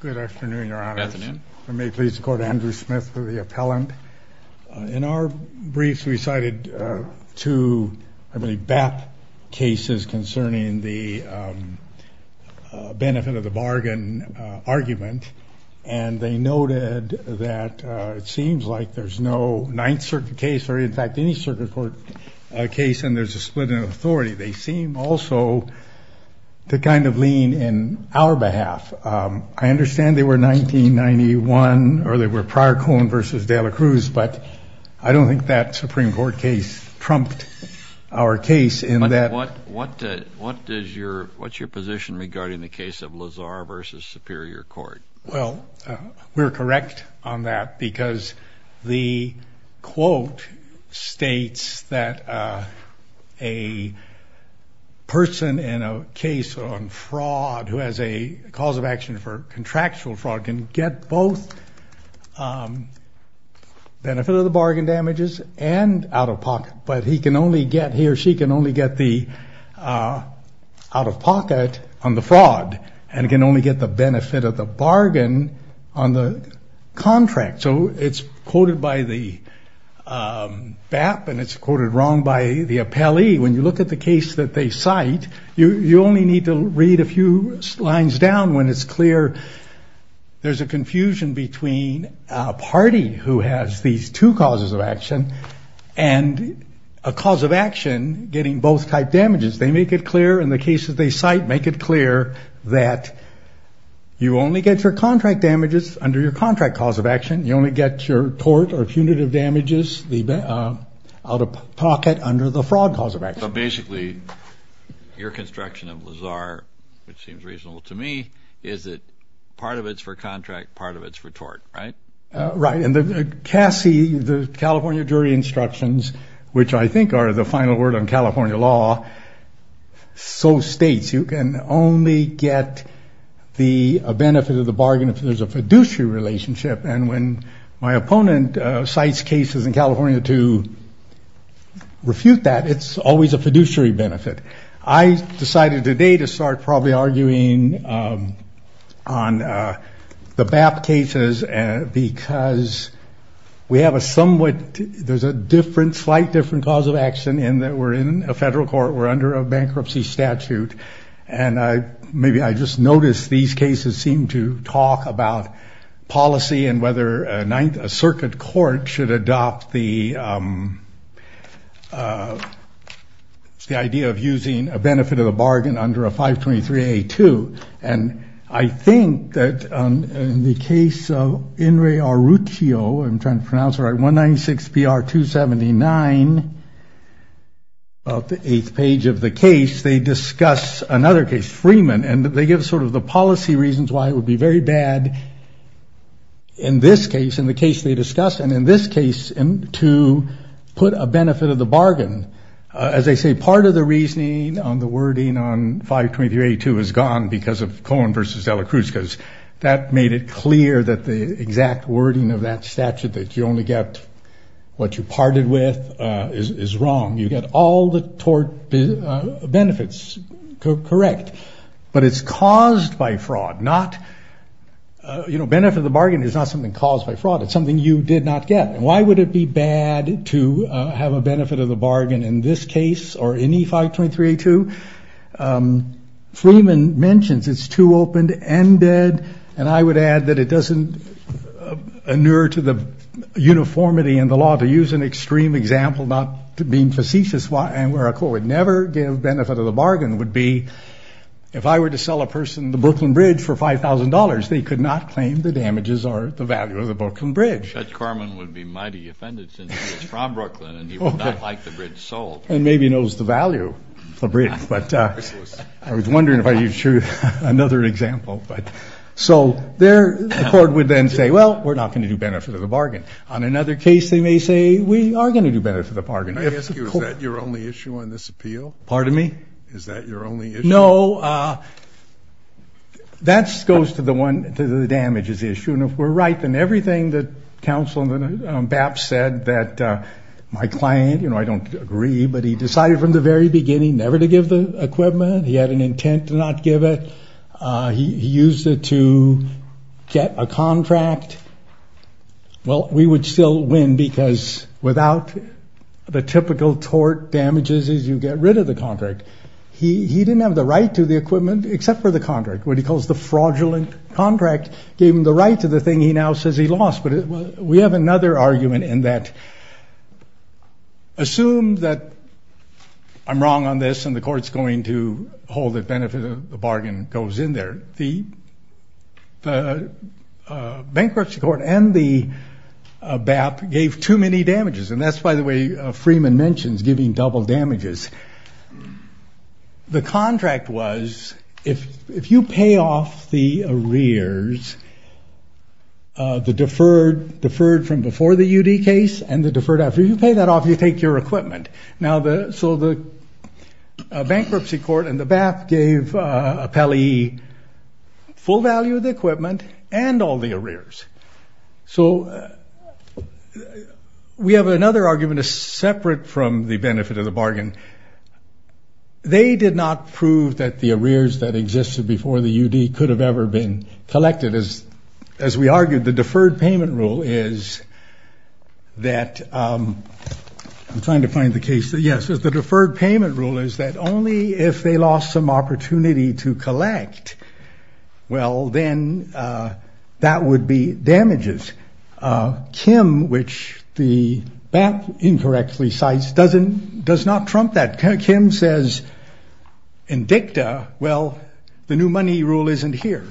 Good afternoon, Your Honor. Good afternoon. If I may please go to Andrew Smith for the appellant. In our briefs we cited two, I believe, BAP cases concerning the benefit of the bargain argument and they noted that it seems like there's no Ninth Circuit case or in fact any circuit court case and there's a split in our behalf. I understand they were 1991 or they were prior Cohen v. de la Cruz but I don't think that Supreme Court case trumped our case in that. What does your, what's your position regarding the case of Lazar v. Superior Court? Well we're correct on that because the quote states that a person in a case on fraud who has a cause of action for contractual fraud can get both benefit of the bargain damages and out-of-pocket but he can only get, he or she can only get the out-of-pocket on the fraud and can only get the benefit of the bargain on the contract. So it's quoted by the BAP and it's quoted wrong by the lines down when it's clear there's a confusion between a party who has these two causes of action and a cause of action getting both type damages. They make it clear in the cases they cite, make it clear that you only get your contract damages under your contract cause of action, you only get your tort or punitive damages, the out-of-pocket under the fraud cause of action. So it seems reasonable to me is that part of it's for contract, part of it's for tort, right? Right, and the CASI, the California Jury Instructions, which I think are the final word on California law, so states you can only get the benefit of the bargain if there's a fiduciary relationship and when my opponent cites cases in California to refute that, it's always a fiduciary benefit. I decided today to start probably arguing on the BAP cases and because we have a somewhat, there's a different, slight different cause of action in that we're in a federal court, we're under a bankruptcy statute and I maybe I just noticed these cases seem to talk about policy and whether a of using a benefit of a bargain under a 523A2 and I think that in the case of Inri Arrutio, I'm trying to pronounce right, 196 PR 279 of the eighth page of the case, they discuss another case, Freeman, and they give sort of the policy reasons why it would be very bad in this case, in the case they discuss, and in this case, to put a benefit of the bargain. As they say, part of the reasoning on the wording on 523A2 is gone because of Cohen versus Dela Cruz, because that made it clear that the exact wording of that statute that you only get what you parted with is wrong. You get all the tort benefits correct, but it's caused by fraud, not, you know, benefit of the bargain is not something caused by fraud, it's something you did not get, and why would it be bad to have a benefit of the bargain in this case or any 523A2? Freeman mentions it's too opened and dead, and I would add that it doesn't inure to the uniformity in the law to use an extreme example, not being facetious, and where a court would never give benefit of the bargain would be if I were to sell a person the value of the Brooklyn Bridge. Judge Corman would be mighty offended since he's from Brooklyn and he would not like the bridge sold. And maybe knows the value of the bridge, but I was wondering if I could show you another example, but so there the court would then say, well, we're not going to do benefit of the bargain. On another case, they may say we are going to do benefit of the bargain. May I ask you, is that your only issue on this appeal? Pardon me? Is that your only issue? No, that goes to the damages issue, and if we're right, then everything that counsel Bapps said that my client, you know, I don't agree, but he decided from the very beginning never to give the equipment. He had an intent to not give it. He used it to get a contract. Well, we would still win because without the typical tort damages is you get rid of the contract. He didn't have the right to the equipment except for the contract gave him the right to the thing he now says he lost, but we have another argument in that. Assume that I'm wrong on this and the courts going to hold it benefit of the bargain goes in there. The bankruptcy court and the Bapps gave too many damages, and that's by the way Freeman mentions giving double damages. The contract was if you pay off the arrears, the deferred deferred from before the UD case and the deferred after. You pay that off, you take your equipment. Now the, so the bankruptcy court and the Bapps gave appellee full value of the equipment and all the arrears. So we have another argument separate from the benefit of the bargain. They did not prove that the arrears that existed before the UD could have ever been collected as as we argued the deferred payment rule is that, I'm trying to find the case, yes, the deferred payment rule is that only if they lost some opportunity to collect, well then that would be damages. Kim, which the Bapps incorrectly cites, doesn't does not trump that. Kim says in dicta, well the new money rule isn't here.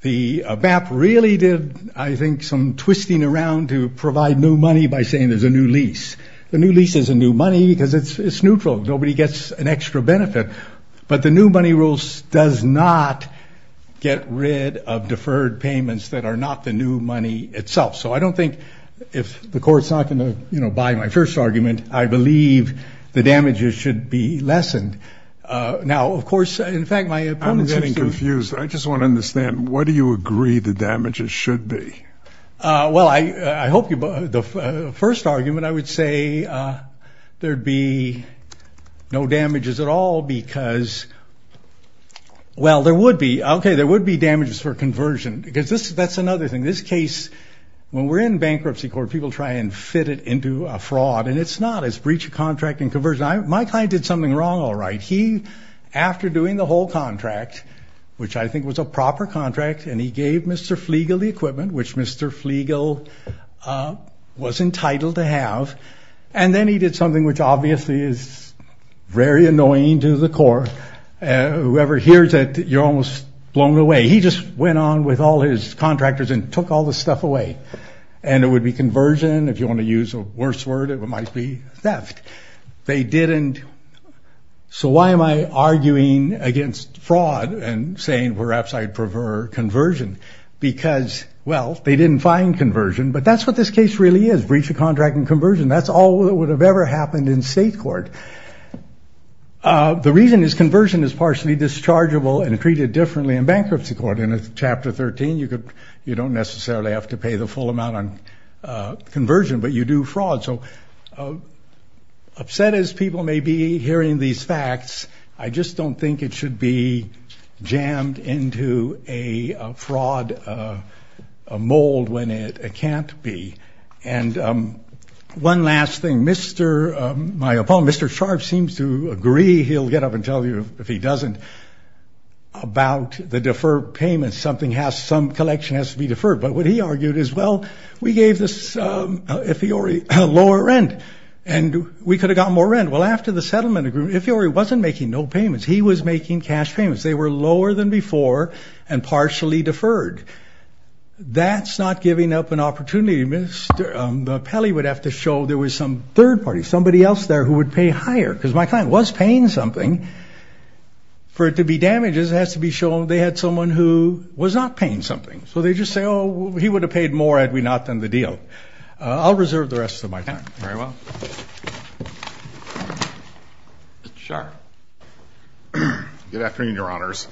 The Bapps really did I think some twisting around to provide new money by saying there's a new lease. The new lease is a new money because it's neutral, nobody gets an benefit of deferred payments that are not the new money itself. So I don't think if the court's not going to, you know, buy my first argument, I believe the damages should be lessened. Now of course, in fact, my opponent... I'm getting confused. I just want to understand, what do you agree the damages should be? Well, I hope you, the first argument I would say there'd be no damages at all because, well there would be, okay, there would be damages for conversion because that's another thing. This case, when we're in bankruptcy court, people try and fit it into a fraud and it's not. It's breach of contract and conversion. My client did something wrong all right. He, after doing the whole contract, which I think was a proper contract, and he gave Mr. Flegel the equipment, which Mr. Flegel was entitled to have, and then he did something which obviously is very core. Whoever hears it, you're almost blown away. He just went on with all his contractors and took all the stuff away. And it would be conversion, if you want to use a worse word, it might be theft. They didn't. So why am I arguing against fraud and saying perhaps I prefer conversion? Because, well, they didn't find conversion, but that's what this case really is. Breach of contract and conversion is partially dischargeable and treated differently in bankruptcy court. In a chapter 13, you don't necessarily have to pay the full amount on conversion, but you do fraud. So upset as people may be hearing these facts, I just don't think it should be jammed into a fraud mold when it can't be. And one last thing. My opponent, Mr. Sharf, seems to agree he'll get up and tell you, if he doesn't, about the deferred payments. Something has, some collection has to be deferred. But what he argued is, well, we gave this, Ifiori, a lower rent and we could have gotten more rent. Well, after the settlement agreement, Ifiori wasn't making no payments, he was making cash payments. They were lower than before and partially deferred. That's not giving up an opportunity. Mr. Pelley would have to show there was some third party, somebody else there who would pay higher. Because my client was paying something. For it to be damages, it has to be shown they had someone who was not paying something. So they just say, oh, he would have paid more had we not done the deal. I'll reserve the rest of my time. Very well. Mr. Sharf. Good afternoon, Your Honors.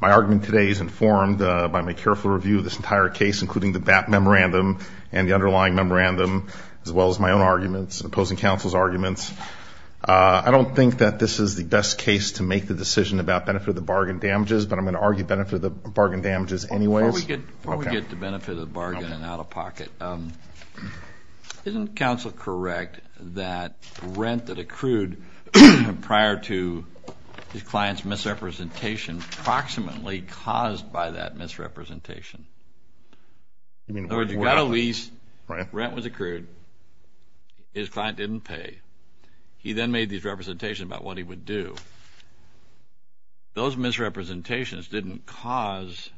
My argument today is informed by my careful review of this entire case, including the BAP memorandum and the underlying memorandum, as well as my own arguments and opposing counsel's arguments. I don't think that this is the best case to make the decision about benefit of the bargain damages, but I'm going to argue benefit of the bargain damages anyway. Before we get to benefit of the bargain and out-of-pocket, isn't counsel correct that rent that accrued prior to his client's misrepresentation approximately caused by that misrepresentation? In other words, you got a lease, rent was accrued, his client didn't pay. He then made these representations about what he would do. Those misrepresentations didn't cause,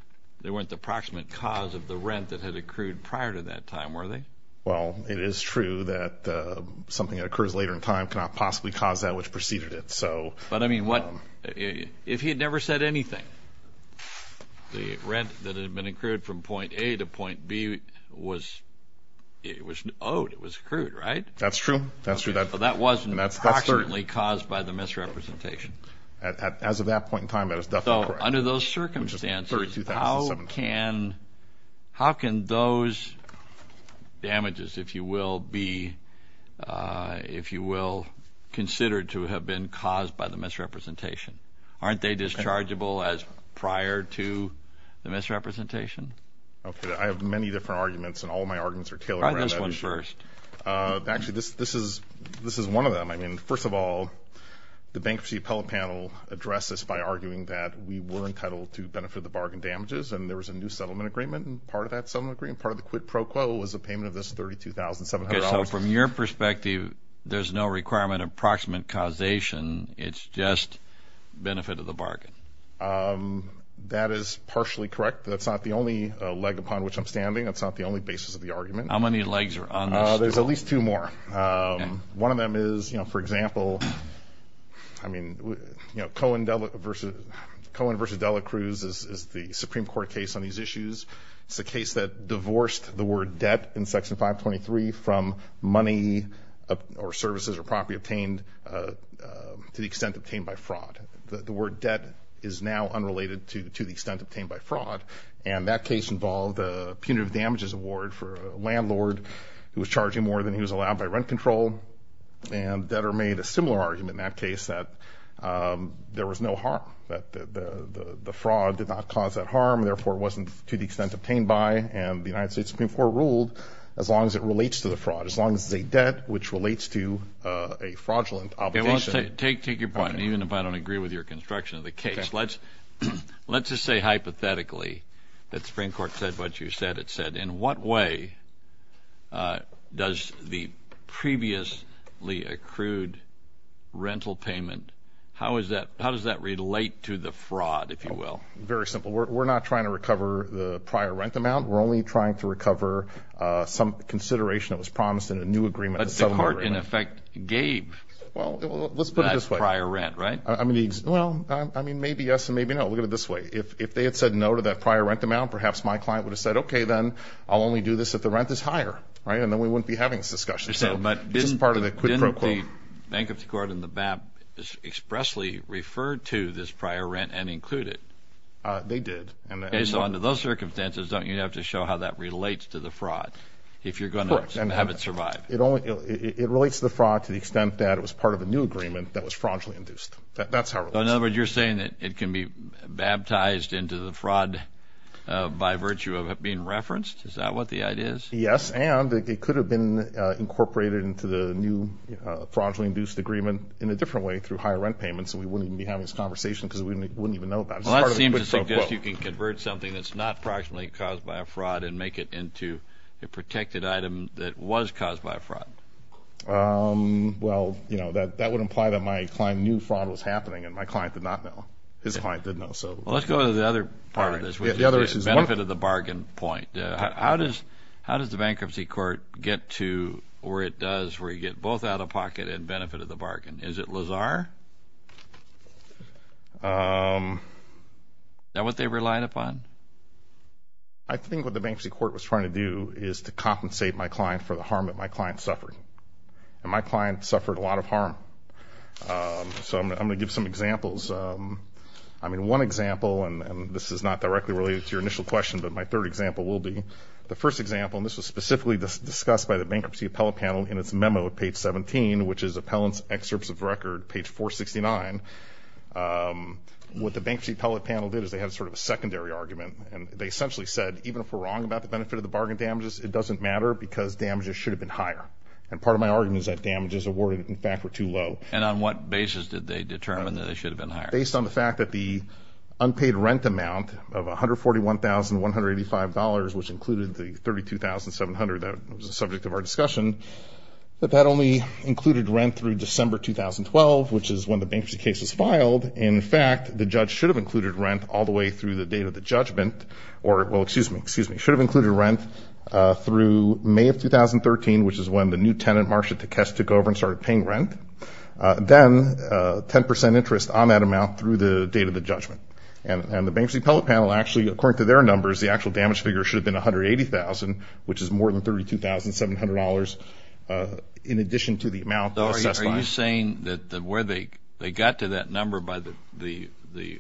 they weren't the approximate cause of the rent that had accrued prior to that time, were they? Well, it is true that something that occurs later in time cannot possibly cause that which the rent that had been accrued from point A to point B was owed, it was accrued, right? That's true, that's true. So that wasn't approximately caused by the misrepresentation? As of that point in time, that is definitely correct. So under those circumstances, how can those damages, if you will, be, if you will, considered to have been caused by the misrepresentation? Aren't they dischargeable as prior to the misrepresentation? Okay, I have many different arguments and all my arguments are tailored around that issue. Try this one first. Actually, this is one of them. I mean, first of all, the Bankruptcy Appellate Panel addressed this by arguing that we were entitled to benefit the bargain damages and there was a new settlement agreement and part of that settlement agreement, part of the quid pro quo, was a payment of this $32,700. Okay, so from your perspective, there's no requirement of approximate causation, it's just benefit of the bargain? That is partially correct. That's not the only leg upon which I'm standing. That's not the only basis of the argument. How many legs are on this? There's at least two more. One of them is, you know, for example, I mean, you know, Cohen versus Dela Cruz is the Supreme Court case on these issues. It's a case that divorced the word debt in to the extent obtained by fraud. The word debt is now unrelated to the extent obtained by fraud and that case involved a punitive damages award for a landlord who was charging more than he was allowed by rent control and debtor made a similar argument in that case that there was no harm, that the fraud did not cause that harm, therefore it wasn't to the extent obtained by and the United States Supreme Court ruled as long as it relates to the fraud, as long as it's a debt which relates to a fraudulent obligation. Take your point, even if I don't agree with your construction of the case. Let's just say hypothetically that Supreme Court said what you said it said. In what way does the previously accrued rental payment, how is that, how does that relate to the fraud, if you will? Very simple. We're not trying to recover the prior rent amount. We're only trying to recover some consideration that was promised in a new agreement. But the court in effect gave that prior rent, right? Well, I mean, maybe yes and maybe no. Look at it this way. If they had said no to that prior rent amount, perhaps my client would have said, okay, then I'll only do this if the rent is higher, right? And then we wouldn't be having this discussion. Didn't the Bankruptcy Court and the BAP expressly refer to this prior rent and include it? They did. Okay, so under those circumstances, don't you have to show how that relates to the fraud if you're going to have it survive? It relates to the fraud to the extent that it was part of a new agreement that was fraudulently induced. That's how it relates. In other words, you're saying that it can be baptized into the fraud by virtue of it being referenced? Is that what the idea is? Yes, and it could have been incorporated into the new fraudulently induced agreement in a different way through higher rent payments, and we wouldn't even be having this conversation because we wouldn't even know about it. Well, that seems to suggest you can convert something that's not proximately caused by a fraud and make it into a protected item that was caused by a fraud. Well, that would imply that my client knew fraud was happening, and my client did not know. His client did know. Let's go to the other part of this, which is the benefit of the bargain point. How does the Bankruptcy Court get to where it does where you get both out-of-pocket and benefit of the bargain? Is it Lazar? Is that what they relied upon? I think what the Bankruptcy Court was trying to do is to compensate my client for the harm that my client suffered, and my client suffered a lot of harm. So I'm going to give some examples. I mean, one example, and this is not directly related to your initial question, but my third example will be. The first example, and this was specifically discussed by the Bankruptcy Appellate Panel in its memo at page 17, which is Appellant's Excerpts of Record, page 469. What the Bankruptcy Appellate Panel did is they had sort of a secondary argument, and they essentially said, even if we're wrong about the benefit of the bargain damages, it doesn't matter because damages should have been higher. And part of my argument is that damages awarded, in fact, were too low. And on what basis did they determine that they should have been higher? Based on the fact that the unpaid rent amount of $141,185, which included the $32,700 that was the subject of our discussion, that that only included rent through December 2012, which is when the bankruptcy case was filed. In fact, the judge should have included rent all the way through the date of the judgment, or, well, excuse me, excuse me, should have included rent through May of 2013, which is when the new tenant, Marsha Takesh, took over and started paying rent. Then 10 percent interest on that amount through the date of the judgment. And the Bankruptcy Appellate Panel actually, according to their numbers, the actual damage figure should have been $180,000, which is more than $32,700 in addition to the amount assessed by them. Are you saying that where they got to that number by the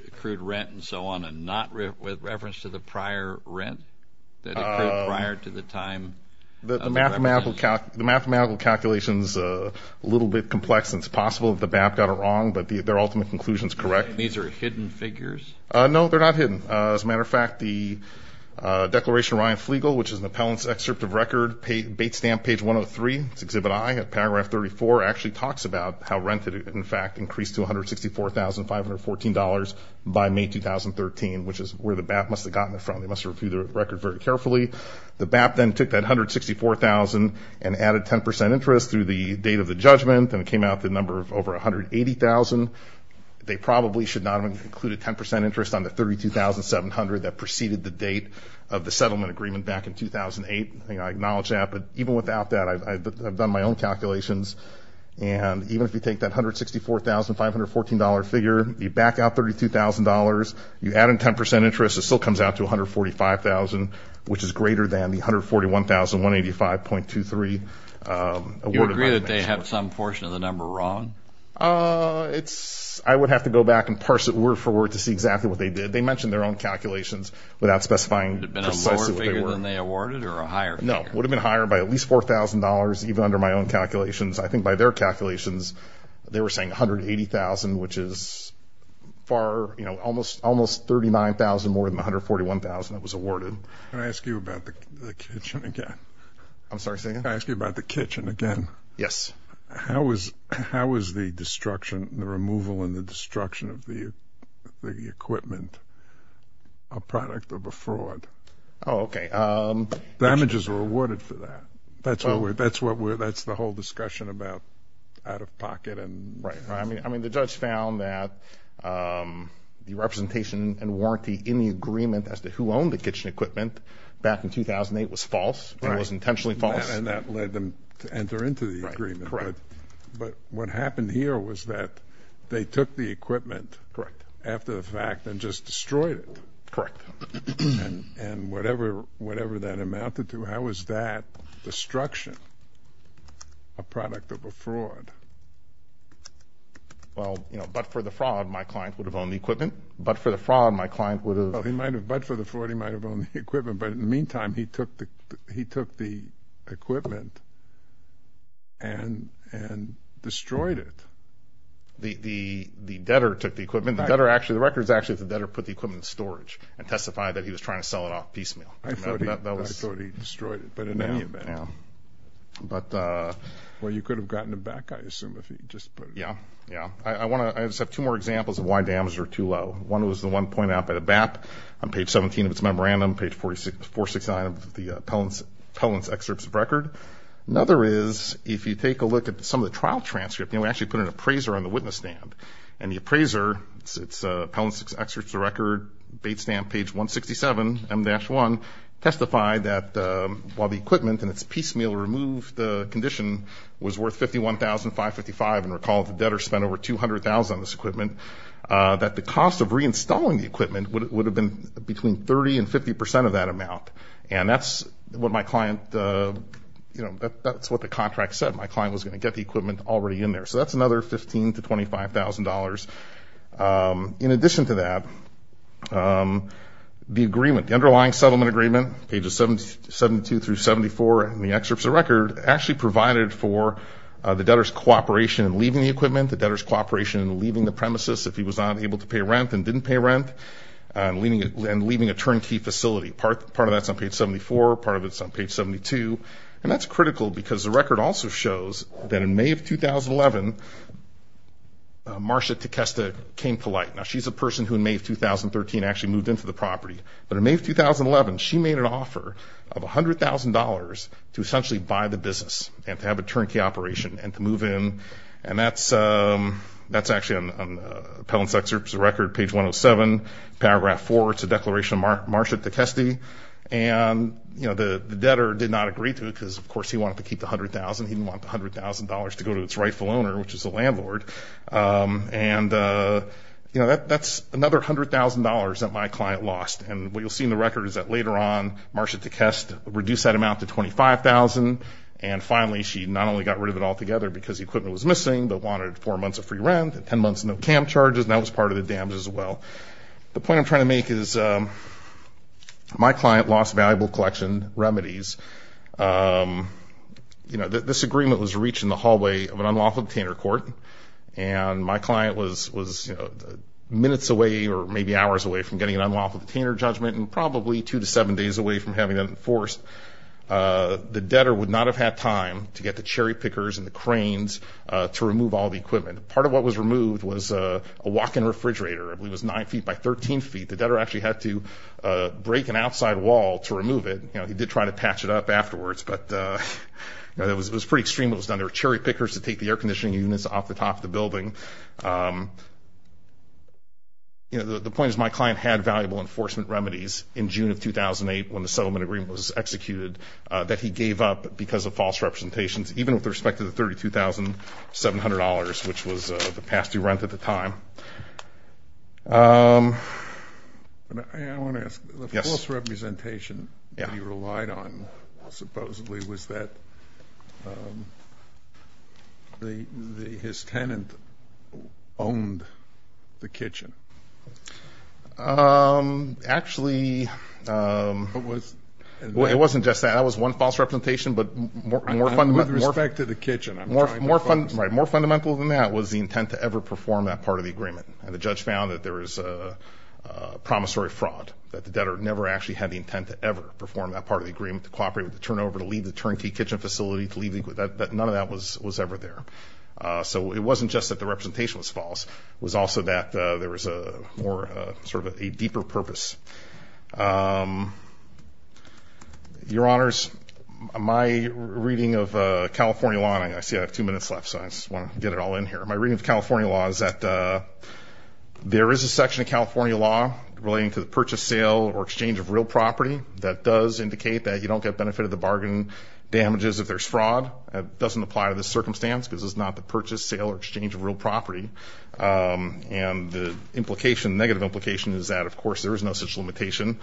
accrued rent and so on and not with reference to the prior rent that accrued prior to the time? The mathematical calculation is a little bit complex. It's possible that the BAP got it wrong, but their ultimate conclusion is correct. These are hidden figures? No, they're not hidden. As a matter of fact, the Declaration of Ryan Flegal, which is an appellant's excerpt of record, Bate Stamp, page 103, Exhibit I, at paragraph 34, actually talks about how rent had, in fact, increased to $164,514 by May 2013, which is where the BAP must have gotten it from. They must have reviewed the record very carefully. The BAP then took that $164,000 and added 10% interest through the date of the judgment, and it came out to a number of over $180,000. They probably should not have included 10% interest on the $32,700 that preceded the date of the settlement agreement back in 2008. I acknowledge that, but even without that, I've done my own calculations. And even if you take that $164,514 figure, you back out $32,000, you add in 10% interest, it still comes out to $145,000, which is greater than the $141,185.23. Do you agree that they have some portion of the number wrong? I would have to go back and parse it word for word to see exactly what they did. They mentioned their own calculations without specifying precisely what they were. Would it have been a lower figure than they awarded or a higher figure? No, it would have been higher by at least $4,000, even under my own calculations. I think by their calculations, they were saying $180,000, which is almost $39,000 more than the $141,000 that was awarded. Can I ask you about the kitchen again? I'm sorry, say again? Can I ask you about the kitchen again? Yes. How is the destruction, the removal and the destruction of the equipment a product of a fraud? Oh, okay. Damages were awarded for that. That's the whole discussion about out-of-pocket. Right. I mean, the judge found that the representation and warranty in the agreement as to who owned the kitchen equipment back in 2008 was false. It was intentionally false. And that led them to enter into the agreement. Correct. But what happened here was that they took the equipment after the fact and just destroyed it. Correct. And whatever that amounted to, how is that destruction a product of a fraud? Well, you know, but for the fraud, my client would have owned the equipment. But for the fraud, my client would have— But for the fraud, he might have owned the equipment. But in the meantime, he took the equipment and destroyed it. The debtor took the equipment. The record is actually that the debtor put the equipment in storage and testified that he was trying to sell it off piecemeal. I thought he destroyed it. Well, you could have gotten it back, I assume, if he just put it back. Yeah, yeah. I just have two more examples of why damages are too low. One was the one pointed out by the BAP on page 17 of its memorandum, page 469 of the Pellon's excerpts of record. Another is, if you take a look at some of the trial transcripts, you know, we actually put an appraiser on the witness stand. And the appraiser, it's Pellon's excerpts of record, bait stand, page 167, M-1, testified that while the equipment in its piecemeal removed condition was worth $51,555, and recall the debtor spent over $200,000 on this equipment, that the cost of reinstalling the equipment would have been between 30% and 50% of that amount. And that's what my client—you know, that's what the contract said. My client was going to get the equipment already in there. So that's another $15,000 to $25,000. In addition to that, the agreement, the underlying settlement agreement, pages 72 through 74 in the excerpts of record, actually provided for the debtor's cooperation in leaving the equipment, the debtor's cooperation in leaving the premises if he was not able to pay rent and didn't pay rent, and leaving a turnkey facility. Part of that's on page 74, part of it's on page 72. And that's critical because the record also shows that in May of 2011, Marcia Tecesta came to light. Now, she's a person who in May of 2013 actually moved into the property. But in May of 2011, she made an offer of $100,000 to essentially buy the business and to have a turnkey operation and to move in. And that's actually on Appellant's excerpts of record, page 107, paragraph 4. It's a declaration of Marcia Tecesta. And, you know, the debtor did not agree to it because, of course, he wanted to keep the $100,000. He didn't want the $100,000 to go to its rightful owner, which is the landlord. And, you know, that's another $100,000 that my client lost. And what you'll see in the record is that later on Marcia Tecesta reduced that amount to $25,000. And finally, she not only got rid of it altogether because the equipment was missing but wanted four months of free rent and 10 months of no camp charges. And that was part of the damage as well. The point I'm trying to make is my client lost valuable collection remedies. You know, this agreement was reached in the hallway of an unlawful detainer court. And my client was minutes away or maybe hours away from getting an unlawful detainer judgment and probably two to seven days away from having it enforced. The debtor would not have had time to get the cherry pickers and the cranes to remove all the equipment. Part of what was removed was a walk-in refrigerator. I believe it was 9 feet by 13 feet. The debtor actually had to break an outside wall to remove it. You know, he did try to patch it up afterwards, but it was pretty extreme what was done. There were cherry pickers to take the air conditioning units off the top of the building. You know, the point is my client had valuable enforcement remedies in June of 2008 when the settlement agreement was executed that he gave up because of false representations, even with respect to the $32,700, which was the past-due rent at the time. I want to ask. Yes. The false representation he relied on, supposedly, was that his tenant owned the kitchen. Actually, it wasn't just that. That was one false representation, but more fundamental than that was the intent to ever perform that part of the agreement. And the judge found that there was promissory fraud, that the debtor never actually had the intent to ever perform that part of the agreement, to cooperate with the turnover, to leave the turnkey kitchen facility, to leave the equipment. None of that was ever there. So it wasn't just that the representation was false. It was also that there was sort of a deeper purpose. Your Honors, my reading of California law, and I see I have two minutes left, so I just want to get it all in here. My reading of California law is that there is a section of California law relating to the purchase, sale, or exchange of real property that does indicate that you don't get benefit of the bargain damages if there's fraud. That doesn't apply to this circumstance because it's not the purchase, sale, or exchange of real property. And the implication, negative implication, is that, of course, there is no such limitation.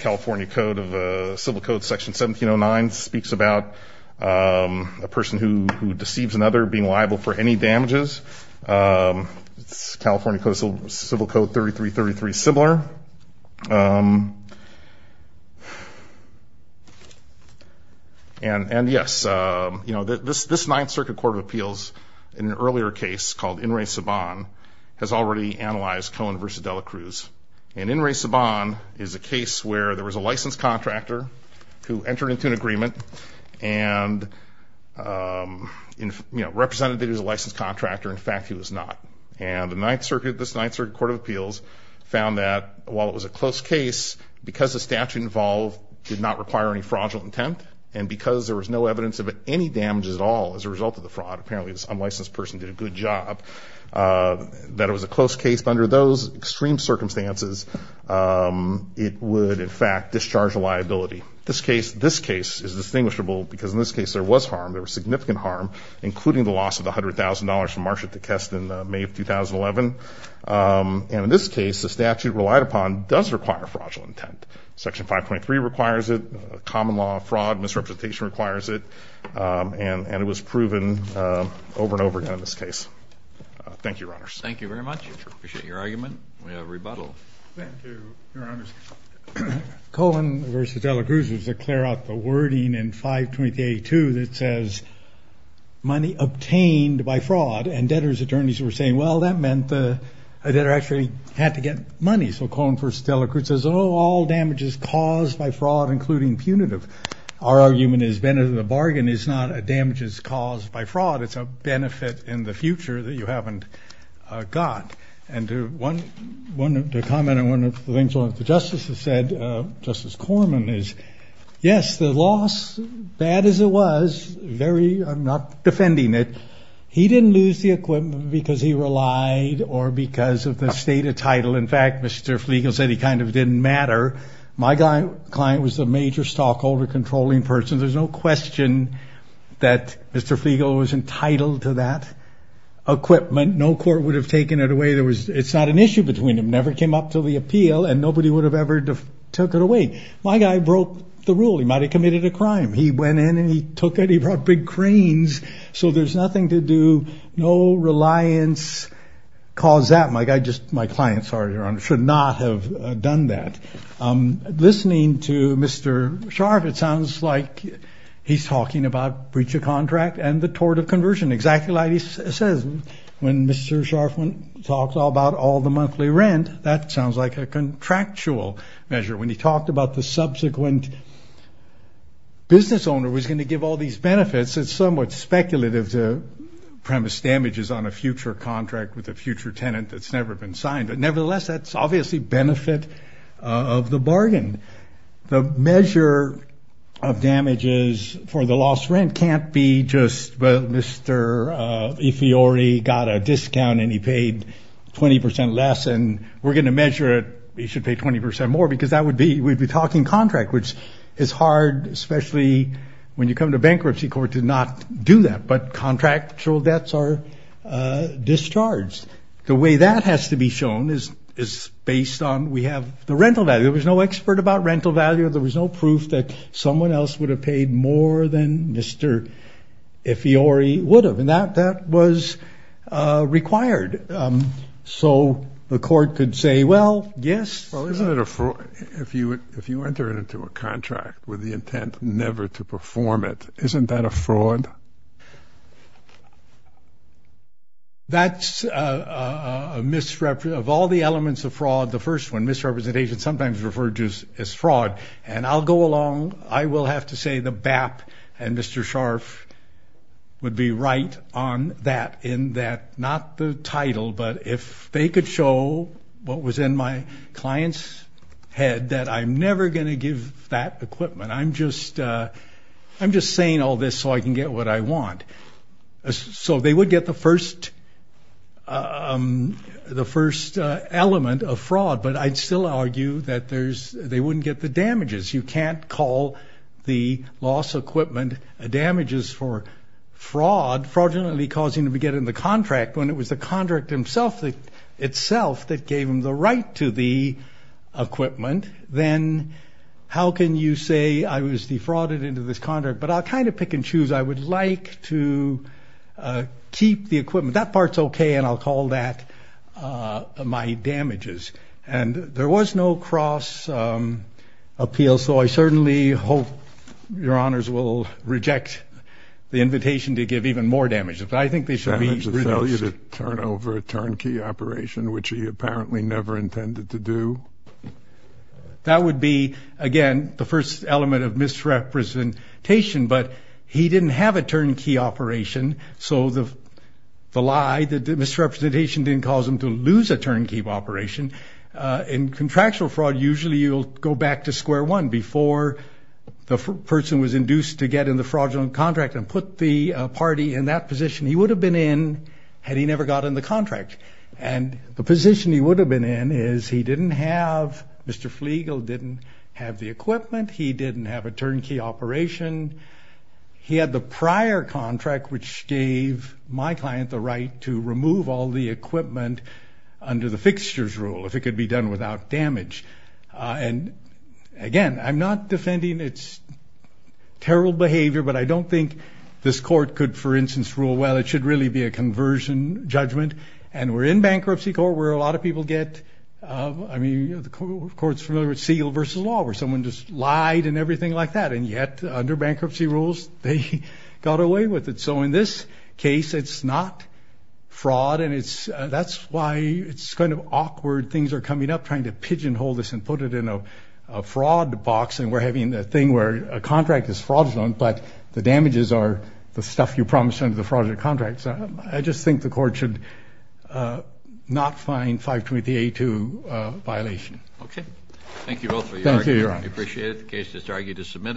California Code of Civil Code Section 1709 speaks about a person who deceives another being liable for any damages. California Civil Code 3333 is similar. And, yes, you know, this Ninth Circuit Court of Appeals, in an earlier case called In re Saban, has already analyzed Cohen v. De La Cruz. And In re Saban is a case where there was a licensed contractor who entered into an agreement and represented that he was a licensed contractor. In fact, he was not. And the Ninth Circuit, this Ninth Circuit Court of Appeals, found that while it was a close case, because the statute involved did not require any fraudulent intent, and because there was no evidence of any damages at all as a result of the fraud, apparently this unlicensed person did a good job, that it was a close case. But under those extreme circumstances, it would, in fact, discharge a liability. This case is distinguishable because in this case there was harm, there was significant harm, including the loss of the $100,000 from Marsha Tequesta in May of 2011. And in this case, the statute relied upon does require fraudulent intent. Section 523 requires it. Common law, fraud, misrepresentation requires it. And it was proven over and over again in this case. Thank you, Your Honors. Thank you very much. We appreciate your argument. We have rebuttal. Thank you, Your Honors. Cohen v. De La Cruz was to clear out the wording in 523A2 that says, money obtained by fraud, and debtors' attorneys were saying, well, that meant the debtor actually had to get money. So Cohen v. De La Cruz says, oh, all damages caused by fraud, including punitive. Our argument has been that a bargain is not a damages caused by fraud. It's a benefit in the future that you haven't got. And to comment on one of the things the Justice has said, Justice Corman, is, yes, the loss, bad as it was, very, I'm not defending it, he didn't lose the equipment because he relied or because of the state of title. In fact, Mr. Flegel said he kind of didn't matter. My client was a major stockholder controlling person. There's no question that Mr. Flegel was entitled to that equipment. No court would have taken it away. It's not an issue between them. It never came up to the appeal, and nobody would have ever took it away. My guy broke the rule. He might have committed a crime. He went in and he took it. He brought big cranes. So there's nothing to do. No reliance caused that. My client, sorry, Your Honor, should not have done that. Listening to Mr. Sharp, it sounds like he's talking about breach of contract and the tort of conversion, exactly like he says. When Mr. Sharfman talks about all the monthly rent, that sounds like a contractual measure. When he talked about the subsequent business owner was going to give all these benefits, it's somewhat speculative to premise damages on a future contract with a future tenant that's never been signed. The measure of damages for the lost rent can't be just, well, Mr. Ifiori got a discount and he paid 20% less, and we're going to measure it. He should pay 20% more, because that would be we'd be talking contract, which is hard, especially when you come to bankruptcy court, to not do that. But contractual debts are discharged. The way that has to be shown is based on we have the rental value. There was no expert about rental value. There was no proof that someone else would have paid more than Mr. Ifiori would have, and that was required. So the court could say, well, yes. Well, isn't it a fraud if you enter it into a contract with the intent never to perform it? Isn't that a fraud? That's a misrepresentation of all the elements of fraud. The first one, misrepresentation, sometimes referred to as fraud. And I'll go along. I will have to say the BAP and Mr. Scharf would be right on that in that not the title, but if they could show what was in my client's head, that I'm never going to give that equipment. I'm just saying all this so I can get what I want. So they would get the first element of fraud, but I'd still argue that they wouldn't get the damages. You can't call the lost equipment damages for fraud, fraudulently causing them to get in the contract when it was the contract itself that gave them the right to the equipment. Then how can you say I was defrauded into this contract? But I'll kind of pick and choose. I would like to keep the equipment. That part's OK, and I'll call that my damages. And there was no cross appeal, so I certainly hope your honors will reject the invitation to give even more damages. But I think they should be reduced. Did he fail you to turn over a turnkey operation, which he apparently never intended to do? That would be, again, the first element of misrepresentation, but he didn't have a turnkey operation, so the lie, the misrepresentation didn't cause him to lose a turnkey operation. In contractual fraud, usually you'll go back to square one before the person was induced to get in the fraudulent contract and put the party in that position he would have been in had he never got in the contract. And the position he would have been in is he didn't have Mr. Flegel, didn't have the equipment, he didn't have a turnkey operation. He had the prior contract, which gave my client the right to remove all the equipment under the fixtures rule, if it could be done without damage. And, again, I'm not defending its terrible behavior, but I don't think this court could, for instance, rule, well, it should really be a conversion judgment. And we're in bankruptcy court where a lot of people get, I mean, the court's familiar with Segal versus law, where someone just lied and everything like that, and yet under bankruptcy rules they got away with it. So in this case, it's not fraud, and that's why it's kind of awkward. Things are coming up, trying to pigeonhole this and put it in a fraud box, and we're having a thing where a contract is fraudulent, but the damages are the stuff you promised under the fraudulent contract. So I just think the court should not find 520A2 a violation. Okay. Thank you both for your argument. Thank you, Your Honor. We appreciate it. The case is argued as submitted.